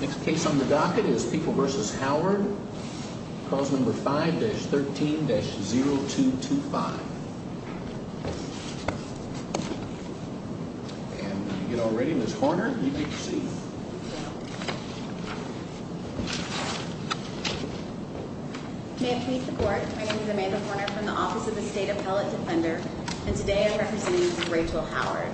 Next case on the docket is People v. Howard, clause number 5-13-0225. And when you get all ready, Ms. Horner, you may proceed. May it please the Court, my name is Amanda Horner from the Office of the State Appellate Defender, and today I'm representing Ms. Rachel Howard.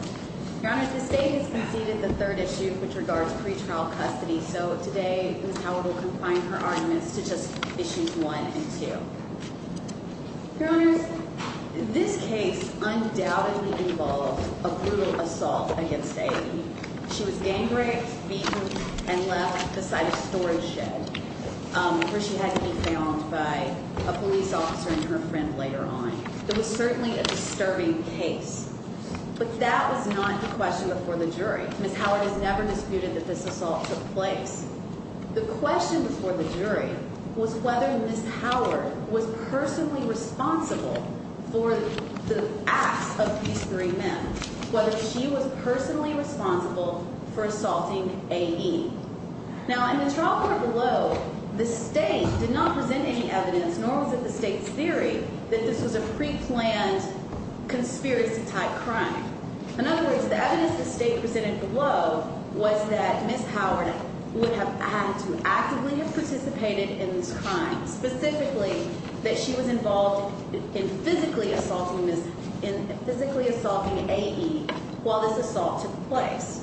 Your Honors, the State has conceded the third issue with regards to pretrial custody, so today Ms. Howard will confine her arguments to just issues 1 and 2. Your Honors, this case undoubtedly involved a brutal assault against Aidy. She was gang-raped, beaten, and left beside a storage shed, where she had to be found by a police officer and her friend later on. It was certainly a disturbing case, but that was not the question before the jury. Ms. Howard has never disputed that this assault took place. The question before the jury was whether Ms. Howard was personally responsible for the acts of these three men, whether she was personally responsible for assaulting Aidy. Now, in the trial court below, the State did not present any evidence, nor was it the State's theory that this was a pre-planned conspiracy-type crime. In other words, the evidence the State presented below was that Ms. Howard would have had to actively have participated in this crime, specifically that she was involved in physically assaulting A.E. while this assault took place.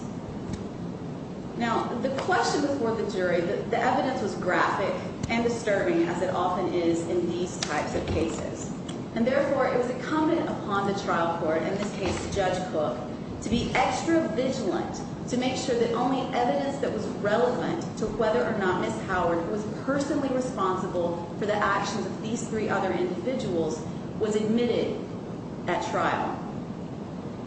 Now, the question before the jury, the evidence was graphic and disturbing, as it often is in these types of cases. And therefore, it was incumbent upon the trial court, in this case Judge Cook, to be extra vigilant to make sure that only evidence that was relevant to whether or not Ms. Howard was personally responsible for the actions of these three other individuals was admitted at trial.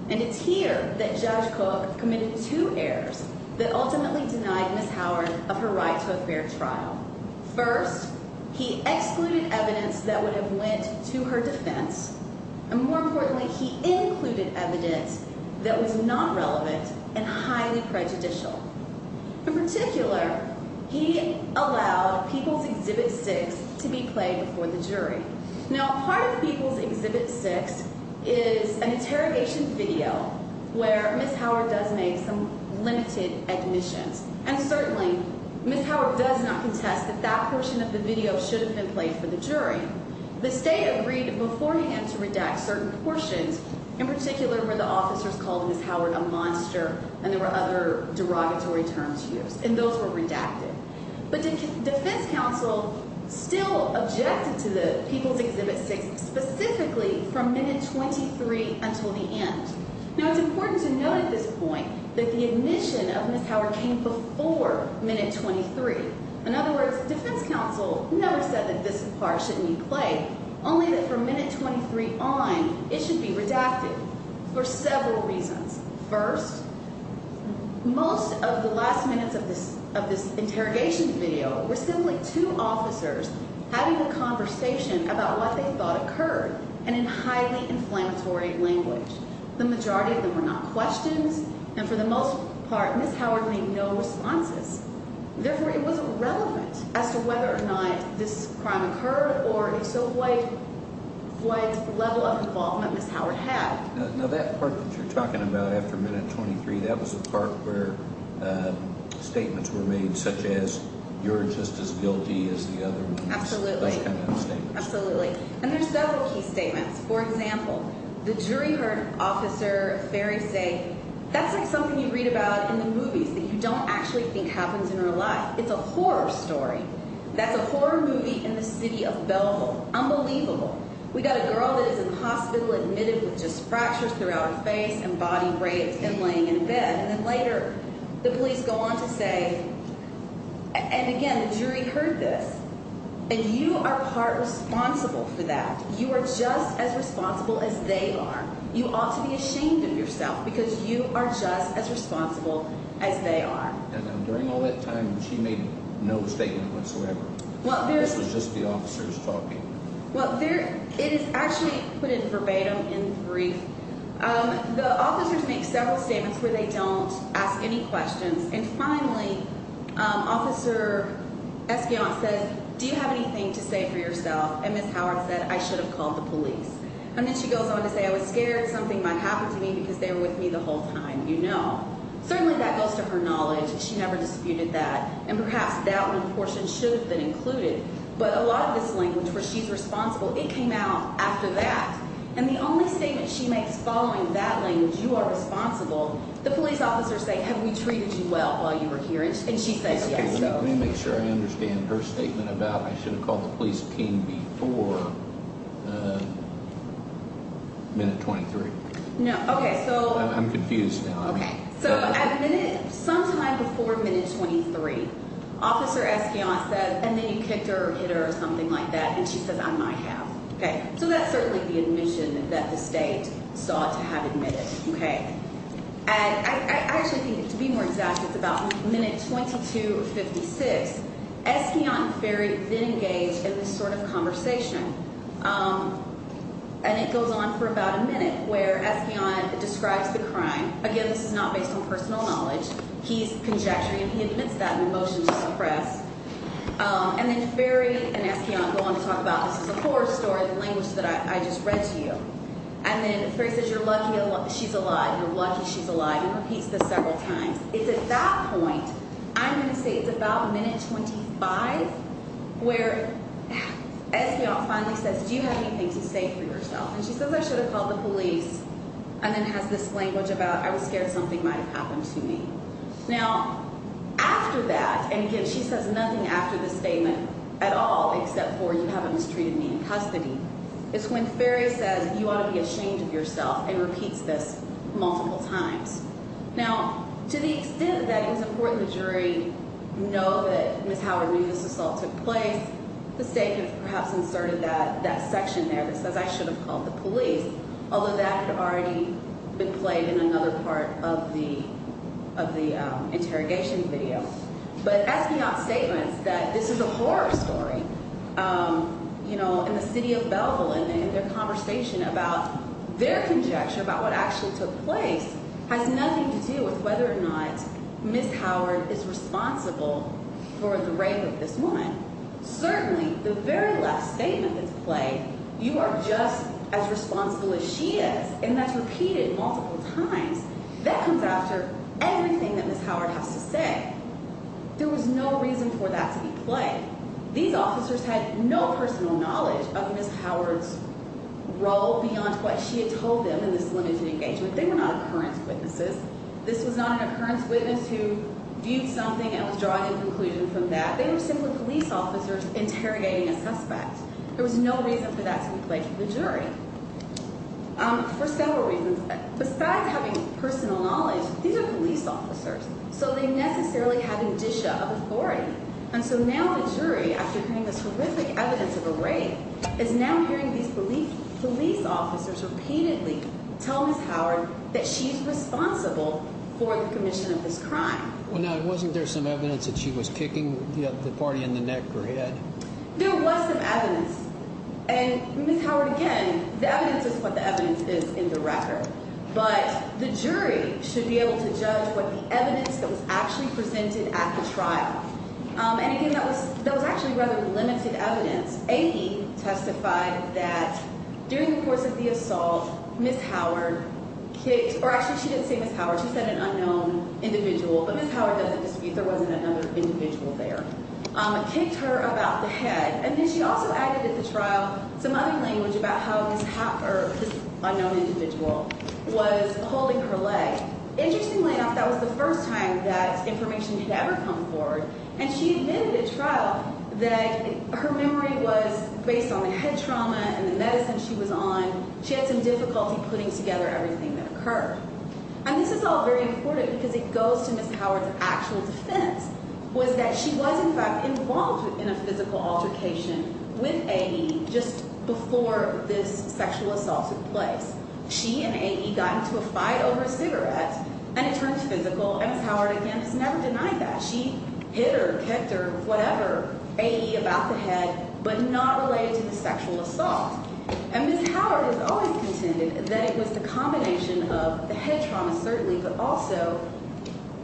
And it's here that Judge Cook committed two errors that ultimately denied Ms. Howard of her right to a fair trial. First, he excluded evidence that would have went to her defense, and more importantly, he included evidence that was non-relevant and highly prejudicial. In particular, he allowed People's Exhibit 6 to be played before the jury. Now, part of People's Exhibit 6 is an interrogation video where Ms. Howard does make some limited admissions. And certainly, Ms. Howard does not contest that that portion of the video should have been played for the jury. The State agreed beforehand to redact certain portions, in particular where the officers called Ms. Howard a monster and there were other derogatory terms used, and those were redacted. But defense counsel still objected to People's Exhibit 6, specifically from minute 23 until the end. Now, it's important to note at this point that the admission of Ms. Howard came before minute 23. In other words, defense counsel never said that this part shouldn't be played, only that from minute 23 on, it should be redacted for several reasons. First, most of the last minutes of this interrogation video were simply two officers having a conversation about what they thought occurred, and in highly inflammatory language. The majority of them were not questions, and for the most part, Ms. Howard made no responses. Therefore, it was irrelevant as to whether or not this crime occurred, or if so, what level of involvement Ms. Howard had. Now, that part that you're talking about after minute 23, that was a part where statements were made such as, you're just as guilty as the other one. Absolutely. Those kind of statements. Absolutely. And there's several key statements. For example, the jury heard Officer Ferry say, that's like something you read about in the movies that you don't actually think happens in real life. It's a horror story. That's a horror movie in the city of Belleville. Unbelievable. We got a girl that is in the hospital admitted with just fractures throughout her face and body breaks and laying in bed. And then later, the police go on to say, and again, the jury heard this, and you are part responsible for that. You are just as responsible as they are. You ought to be ashamed of yourself because you are just as responsible as they are. And during all that time, she made no statement whatsoever. This was just the officers talking. Well, it is actually put in verbatim, in brief. The officers make several statements where they don't ask any questions. And finally, Officer Espion says, do you have anything to say for yourself? And Ms. Howard said, I should have called the police. And then she goes on to say, I was scared something might happen to me because they were with me the whole time. You know. Certainly that goes to her knowledge. She never disputed that. And perhaps that one portion should have been included. But a lot of this language where she's responsible, it came out after that. And the only statement she makes following that language, you are responsible, the police officers say, have we treated you well while you were here? And she says yes. Let me make sure I understand her statement about I should have called the police team before minute 23. No. Okay. I'm confused now. Okay. So at minute, sometime before minute 23, Officer Espion says, and then you kicked her or hit her or something like that. And she says, I might have. Okay. So that's certainly the admission that the state sought to have admitted. Okay. And I actually think to be more exact, it's about minute 22 of 56. Espion and Ferry then engage in this sort of conversation. And it goes on for about a minute where Espion describes the crime. Again, this is not based on personal knowledge. He's conjecturing and he admits that in a motion to suppress. And then Ferry and Espion go on to talk about this is a horror story, the language that I just read to you. And then Ferry says, you're lucky she's alive. You're lucky she's alive. He repeats this several times. It's at that point, I'm going to say it's about minute 25 where Espion finally says, do you have anything to say for yourself? And she says, I should have called the police. And then has this language about, I was scared something might have happened to me. Now, after that, and again, she says nothing after the statement at all except for you haven't mistreated me in custody. It's when Ferry says, you ought to be ashamed of yourself and repeats this multiple times. Now, to the extent that it was important the jury know that Ms. Howard knew this assault took place, the state has perhaps inserted that section there that says I should have called the police, although that had already been played in another part of the interrogation video. But Espion's statement that this is a horror story, you know, in the city of Belleville, and their conversation about their conjecture about what actually took place has nothing to do with whether or not Ms. Howard is responsible for the rape of this woman. Certainly, the very last statement that's played, you are just as responsible as she is, and that's repeated multiple times. That comes after everything that Ms. Howard has to say. There was no reason for that to be played. These officers had no personal knowledge of Ms. Howard's role beyond what she had told them in this limited engagement. They were not occurrence witnesses. This was not an occurrence witness who viewed something and was drawing a conclusion from that. They were simply police officers interrogating a suspect. There was no reason for that to be played for the jury for several reasons. Besides having personal knowledge, these are police officers, so they necessarily have indicia of authority. And so now the jury, after hearing this horrific evidence of a rape, is now hearing these police officers repeatedly tell Ms. Howard that she's responsible for the commission of this crime. Well, now, wasn't there some evidence that she was kicking the party in the neck or head? There was some evidence. And Ms. Howard, again, the evidence is what the evidence is in the record. But the jury should be able to judge what the evidence that was actually presented at the trial. And again, that was actually rather limited evidence. Amy testified that during the course of the assault, Ms. Howard kicked – or actually, she didn't say Ms. Howard. She said an unknown individual. But Ms. Howard doesn't dispute there wasn't another individual there. Kicked her about the head. And then she also added at the trial some other language about how this unknown individual was holding her leg. Interestingly enough, that was the first time that information had ever come forward. And she admitted at trial that her memory was based on the head trauma and the medicine she was on. She had some difficulty putting together everything that occurred. And this is all very important because it goes to Ms. Howard's actual defense was that she was, in fact, involved in a physical altercation with A.E. just before this sexual assault took place. She and A.E. got into a fight over a cigarette, and it turned physical. And Ms. Howard, again, has never denied that. She hit her, kicked her, whatever, A.E. about the head, but not related to the sexual assault. And Ms. Howard has always contended that it was the combination of the head trauma, certainly, but also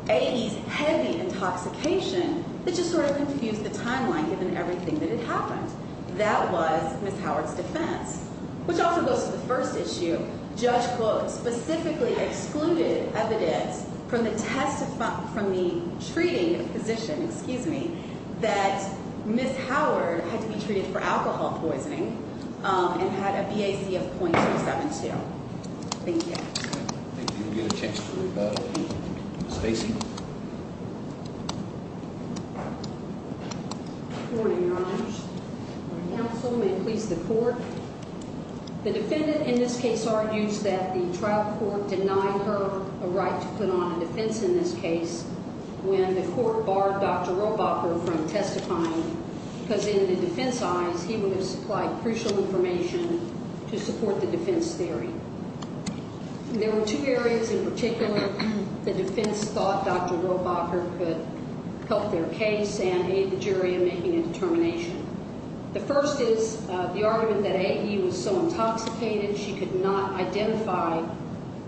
A.E.'s heavy intoxication that just sort of confused the timeline given everything that had happened. That was Ms. Howard's defense, which also goes to the first issue. Judge Close specifically excluded evidence from the treaty of position, excuse me, that Ms. Howard had to be treated for alcohol poisoning and had a BAC of .072. Thank you. Thank you. We'll give a chance to Stacy. Good morning, Your Honor. Good morning, counsel. May it please the court. The defendant in this case argues that the trial court denied her a right to put on a defense in this case when the court barred Dr. Robacher from testifying because in the defense's eyes, he would have supplied crucial information to support the defense theory. There were two areas in particular the defense thought Dr. Robacher could help their case and aid the jury in making a determination. The first is the argument that A.E. was so intoxicated she could not identify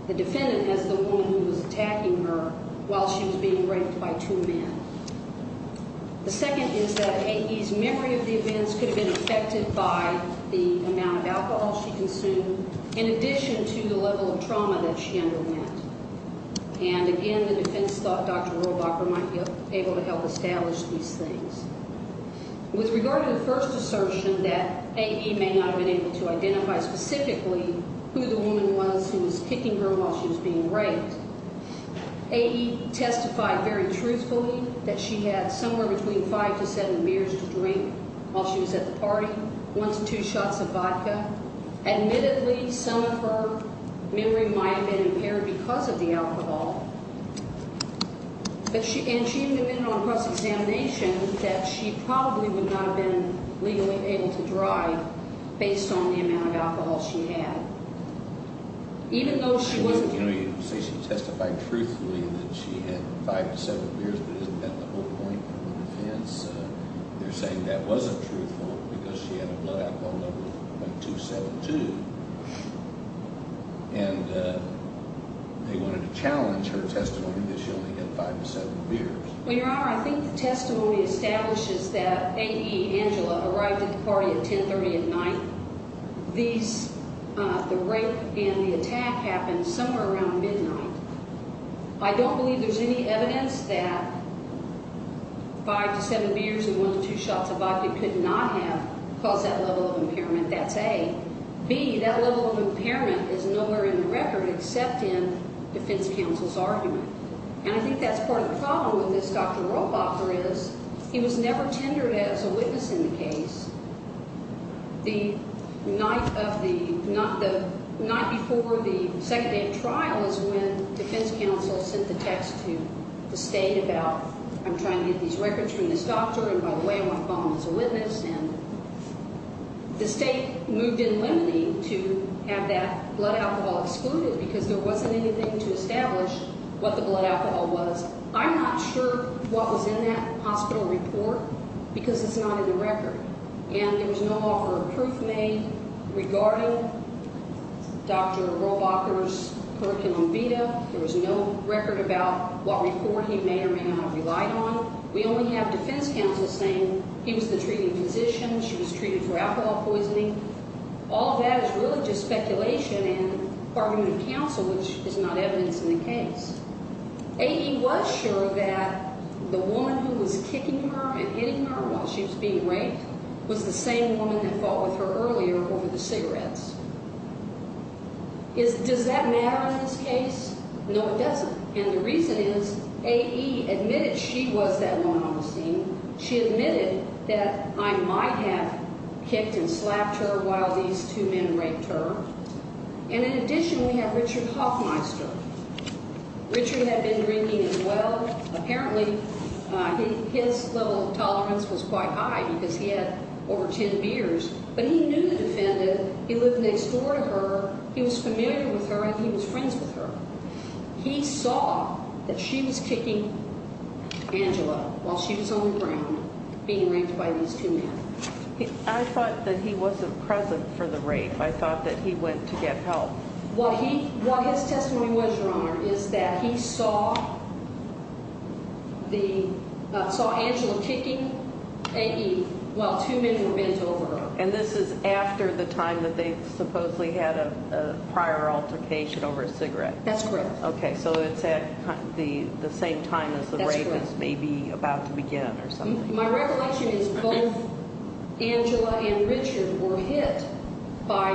the defendant as the woman who was attacking her while she was being raped by two men. The second is that A.E.'s memory of the events could have been affected by the amount of alcohol she consumed in addition to the level of trauma that she underwent. And, again, the defense thought Dr. Robacher might be able to help establish these things. With regard to the first assertion that A.E. may not have been able to identify specifically who the woman was who was kicking her while she was being raped, A.E. testified very truthfully that she had somewhere between five to seven beers to drink while she was at the party, one to two shots of vodka. Admittedly, some of her memory might have been impaired because of the alcohol, and she even admitted on cross-examination that she probably would not have been legally able to drive based on the amount of alcohol she had. Even though she wasn't... You know, you say she testified truthfully that she had five to seven beers, but isn't that the whole point of the defense? They're saying that wasn't truthful because she had a blood alcohol level of .272, and they wanted to challenge her testimony that she only had five to seven beers. Well, Your Honor, I think the testimony establishes that A.E., Angela, arrived at the party at 1030 at night. These...the rape and the attack happened somewhere around midnight. I don't believe there's any evidence that five to seven beers and one to two shots of vodka could not have caused that level of impairment. That's A. B, that level of impairment is nowhere in the record except in defense counsel's argument, and I think that's part of the problem with this Dr. Ropoffer is he was never tendered as a witness in the case. The night of the...the night before the second day of trial is when defense counsel sent the text to the state about, I'm trying to get these records from this doctor, and by the way, I want to call him as a witness, and the state moved in limiting to have that blood alcohol excluded because there wasn't anything to establish what the blood alcohol was. I'm not sure what was in that hospital report because it's not in the record, and there was no offer of proof made regarding Dr. Ropoffer's curriculum vita. There was no record about what report he may or may not have relied on. We only have defense counsel saying he was the treating physician. She was treated for alcohol poisoning. All of that is really just speculation and argument of counsel, which is not evidence in the case. A.E. was sure that the woman who was kicking her and hitting her while she was being raped was the same woman that fought with her earlier over the cigarettes. Does that matter in this case? No, it doesn't, and the reason is A.E. admitted she was that woman on the scene. She admitted that I might have kicked and slapped her while these two men raped her, and in addition we have Richard Hoffmeister. Richard had been drinking as well. Apparently his level of tolerance was quite high because he had over 10 beers, but he knew the defendant. He lived next door to her. He was familiar with her, and he was friends with her. He saw that she was kicking Angela while she was on the ground being raped by these two men. I thought that he wasn't present for the rape. I thought that he went to get help. What his testimony was, Your Honor, is that he saw Angela kicking A.E. while two men were bent over her. And this is after the time that they supposedly had a prior altercation over a cigarette. That's correct. Okay, so it's at the same time as the rape is maybe about to begin or something. My recollection is both Angela and Richard were hit by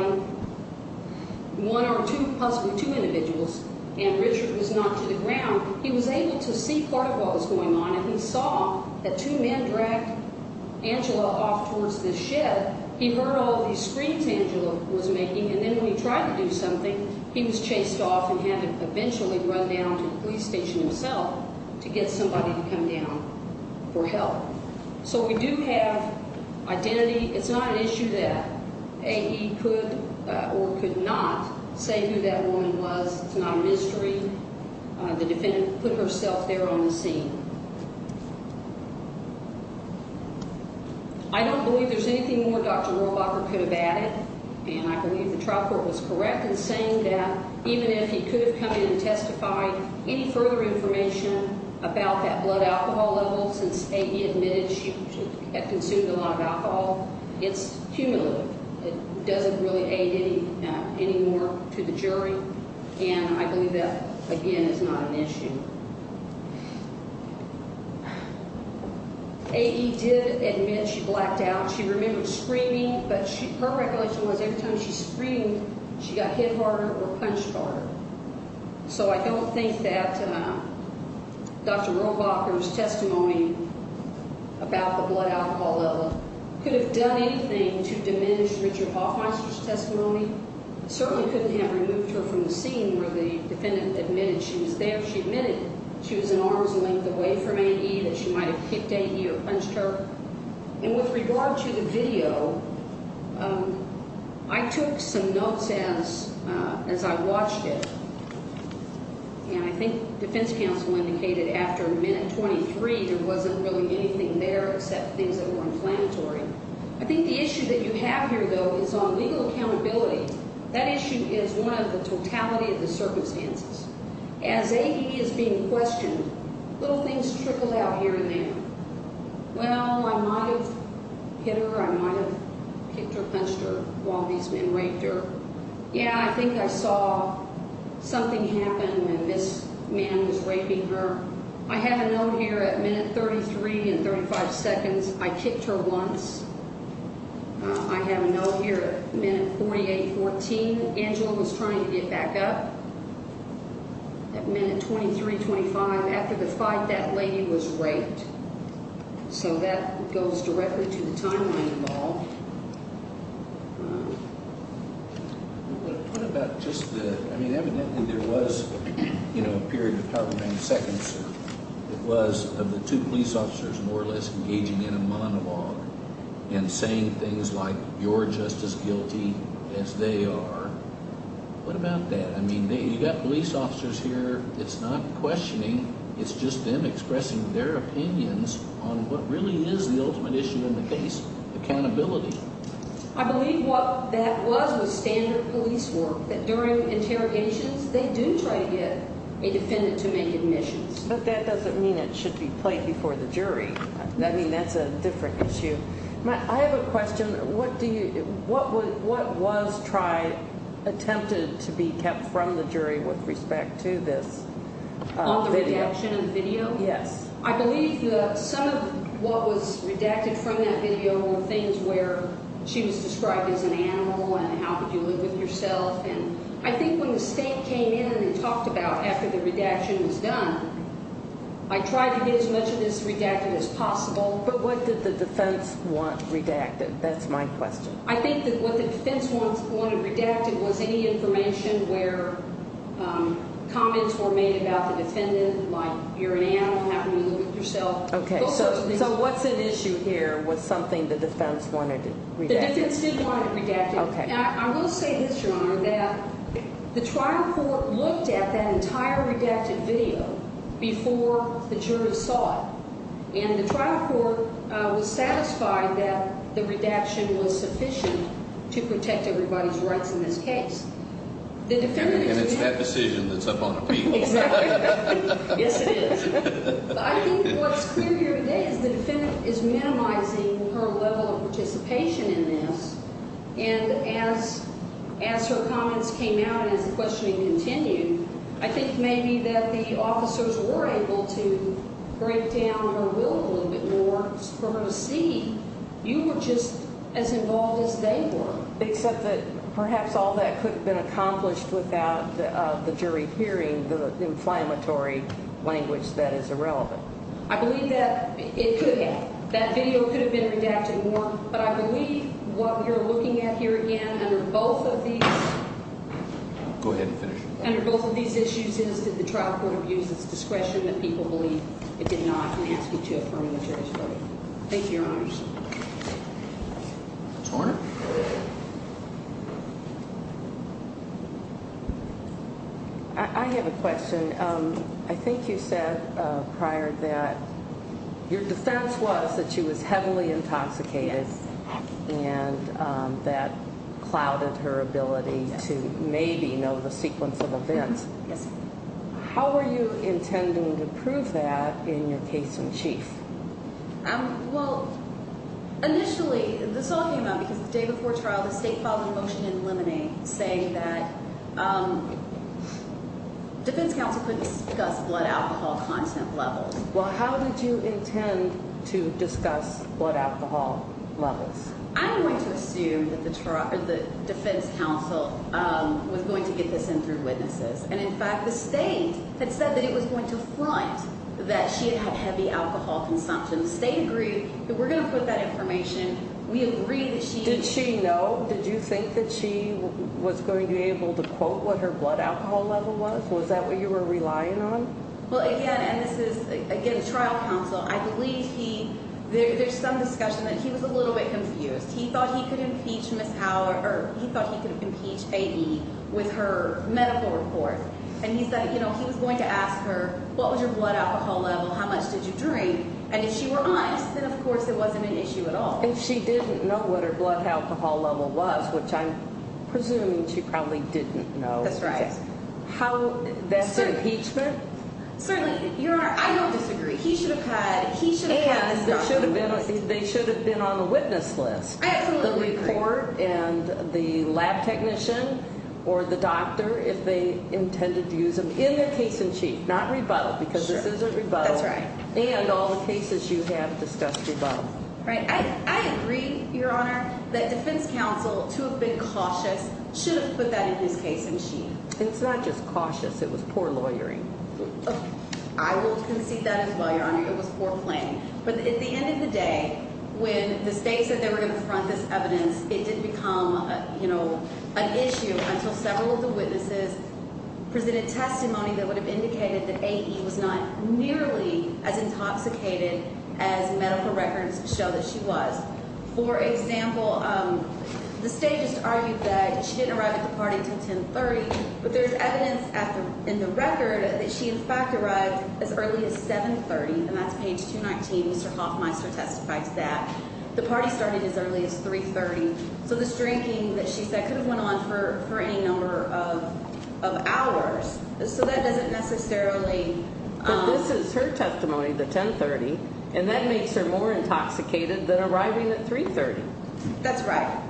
one or two, possibly two individuals, and Richard was knocked to the ground. He was able to see part of what was going on, and he saw that two men dragged Angela off towards the shed. He heard all these screams Angela was making, and then when he tried to do something, he was chased off and had to eventually run down to the police station himself to get somebody to come down for help. So we do have identity. It's not an issue that A.E. could or could not say who that woman was. It's not a mystery. The defendant put herself there on the scene. I don't believe there's anything more Dr. Rohrabacher could have added, and I believe the trial court was correct in saying that even if he could have come in and testified any further information about that blood alcohol level, since A.E. admitted she had consumed a lot of alcohol, it's cumulative. It doesn't really aid any more to the jury, and I believe that, again, is not an issue. A.E. did admit she blacked out. She remembered screaming, but her regulation was every time she screamed, she got hit harder or punched harder. So I don't think that Dr. Rohrabacher's testimony about the blood alcohol level certainly couldn't have removed her from the scene where the defendant admitted she was there. She admitted she was an arm's length away from A.E., that she might have kicked A.E. or punched her. And with regard to the video, I took some notes as I watched it, and I think defense counsel indicated after minute 23 there wasn't really anything there except things that were inflammatory. I think the issue that you have here, though, is on legal accountability. That issue is one of the totality of the circumstances. As A.E. is being questioned, little things trickle out here and there. Well, I might have hit her. I might have kicked her, punched her while these men raped her. Yeah, I think I saw something happen when this man was raping her. I have a note here at minute 33 and 35 seconds. I kicked her once. I have a note here at minute 48, 14. Angela was trying to get back up at minute 23, 25. After the fight, that lady was raped. So that goes directly to the timeline involved. What about just the, I mean, evidently there was, you know, a period of however many seconds it was of the two police officers more or less engaging in a monologue and saying things like you're just as guilty as they are. What about that? I mean, you've got police officers here. It's not questioning. It's just them expressing their opinions on what really is the ultimate issue in the case, accountability. I believe what that was was standard police work, that during interrogations they do try to get a defendant to make admissions. But that doesn't mean it should be played before the jury. I mean, that's a different issue. I have a question. What was tried, attempted to be kept from the jury with respect to this video? On the redaction of the video? Yes. I believe some of what was redacted from that video were things where she was described as an animal and how could you live with yourself. And I think when the state came in and talked about after the redaction was done, I tried to get as much of this redacted as possible. But what did the defense want redacted? That's my question. I think that what the defense wanted redacted was any information where comments were made about the defendant like you're an animal, how can you live with yourself. Okay, so what's at issue here was something the defense wanted redacted? The defense did want it redacted. Okay. And I will say this, Your Honor, that the trial court looked at that entire redacted video before the jurors saw it. And the trial court was satisfied that the redaction was sufficient to protect everybody's rights in this case. And it's that decision that's up on appeal. Exactly. Yes, it is. I think what's clear here today is the defendant is minimizing her level of participation in this. And as her comments came out and as the questioning continued, I think maybe that the officers were able to break down her will a little bit more for her to see you were just as involved as they were. Except that perhaps all that could have been accomplished without the jury hearing the inflammatory language that is irrelevant. I believe that it could have. That video could have been redacted more. But I believe what we are looking at here again under both of these issues is that the trial court abused its discretion that people believe it did not and asked me to affirm the jury's verdict. Thank you, Your Honor. I have a question. I think you said prior that your defense was that she was heavily intoxicated and that clouded her ability to maybe know the sequence of events. Yes. How are you intending to prove that in your case in chief? Well, initially, this all came out because the day before trial, the state filed a motion in limine saying that defense counsel couldn't discuss blood alcohol content levels. Well, how did you intend to discuss blood alcohol levels? I'm going to assume that the defense counsel was going to get this in through witnesses. And, in fact, the state had said that it was going to front that she had heavy alcohol consumption. The state agreed that we're going to put that information. We agreed that she did. Did she know? Did you think that she was going to be able to quote what her blood alcohol level was? Was that what you were relying on? Well, again, and this is, again, trial counsel. I believe he there's some discussion that he was a little bit confused. He thought he could impeach Ms. Howard or he thought he could impeach A.D. with her medical report. And he said, you know, he was going to ask her, what was your blood alcohol level, how much did you drink? And if she were honest, then, of course, it wasn't an issue at all. If she didn't know what her blood alcohol level was, which I'm presuming she probably didn't know. That's right. How that's impeachment? Certainly. Your Honor, I don't disagree. He should have had, he should have had discussion with us. They should have been on the witness list. The report and the lab technician or the doctor, if they intended to use them in their case in chief, not rebuttal. Because this is a rebuttal. That's right. And all the cases you have discussed rebuttal. Right. I agree, Your Honor, that defense counsel, to have been cautious, should have put that in his case in chief. It's not just cautious. It was poor lawyering. I will concede that as well, Your Honor. It was poor playing. But at the end of the day, when the state said they were going to front this evidence, it didn't become, you know, an issue until several of the witnesses presented testimony that would have indicated that A.E. was not nearly as intoxicated as medical records show that she was. For example, the state just argued that she didn't arrive at the party until 1030, but there's evidence in the record that she, in fact, arrived as early as 730. And that's page 219. Mr. Hoffmeister testified to that. The party started as early as 330. So this drinking that she said could have went on for any number of hours, so that doesn't necessarily. But this is her testimony, the 1030, and that makes her more intoxicated than arriving at 330. That's right.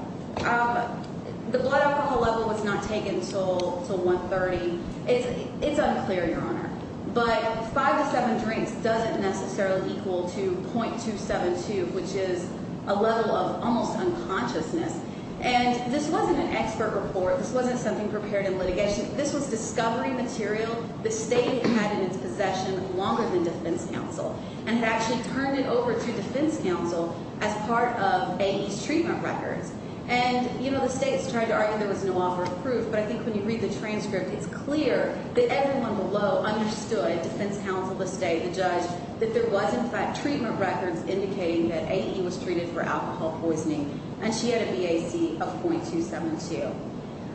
The blood alcohol level was not taken until 130. It's unclear, Your Honor. But five to seven drinks doesn't necessarily equal to .272, which is a level of almost unconsciousness. And this wasn't an expert report. This wasn't something prepared in litigation. This was discovery material the state had in its possession longer than defense counsel and had actually turned it over to defense counsel as part of A.E.'s treatment records. And, you know, the state has tried to argue there was no offer of proof, but I think when you read the transcript, it's clear that everyone below understood, defense counsel, the state, the judge, that there was, in fact, treatment records indicating that A.E. was treated for alcohol poisoning and she had a BAC of .272.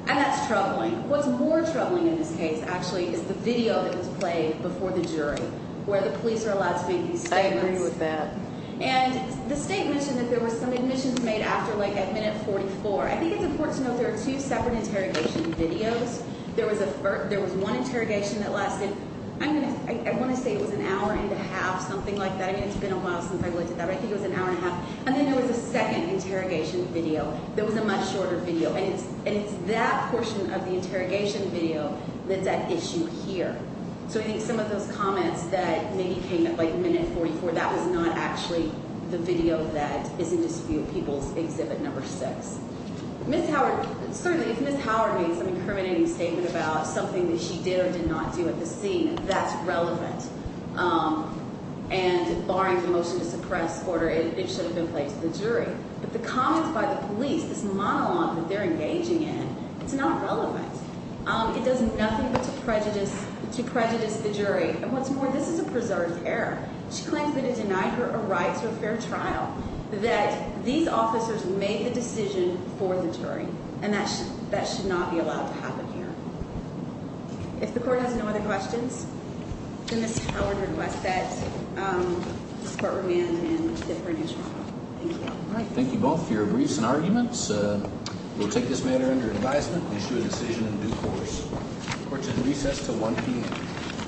And that's troubling. What's more troubling in this case, actually, is the video that was played before the jury where the police are allowed to make these statements. I agree with that. And the state mentioned that there were some admissions made after, like, at minute 44. I think it's important to note there are two separate interrogation videos. There was one interrogation that lasted, I want to say it was an hour and a half, something like that. I mean, it's been a while since I've looked at that, but I think it was an hour and a half. And then there was a second interrogation video that was a much shorter video. And it's that portion of the interrogation video that's at issue here. So I think some of those comments that maybe came at, like, minute 44, that was not actually the video that is in dispute, People's Exhibit No. 6. Ms. Howard, certainly if Ms. Howard made some incriminating statement about something that she did or did not do at the scene, that's relevant. And barring the motion to suppress order, it should have been played to the jury. But the comments by the police, this monologue that they're engaging in, it's not relevant. It does nothing but to prejudice the jury. And what's more, this is a preserved error. She claims that it denied her a right to a fair trial, that these officers made the decision for the jury. And that should not be allowed to happen here. If the Court has no other questions, then Ms. Howard requests that this Court remain in different instruments. Thank you. Thank you both for your briefs and arguments. We'll take this matter under advisement and issue a decision in due course. Court is recessed until 1 p.m.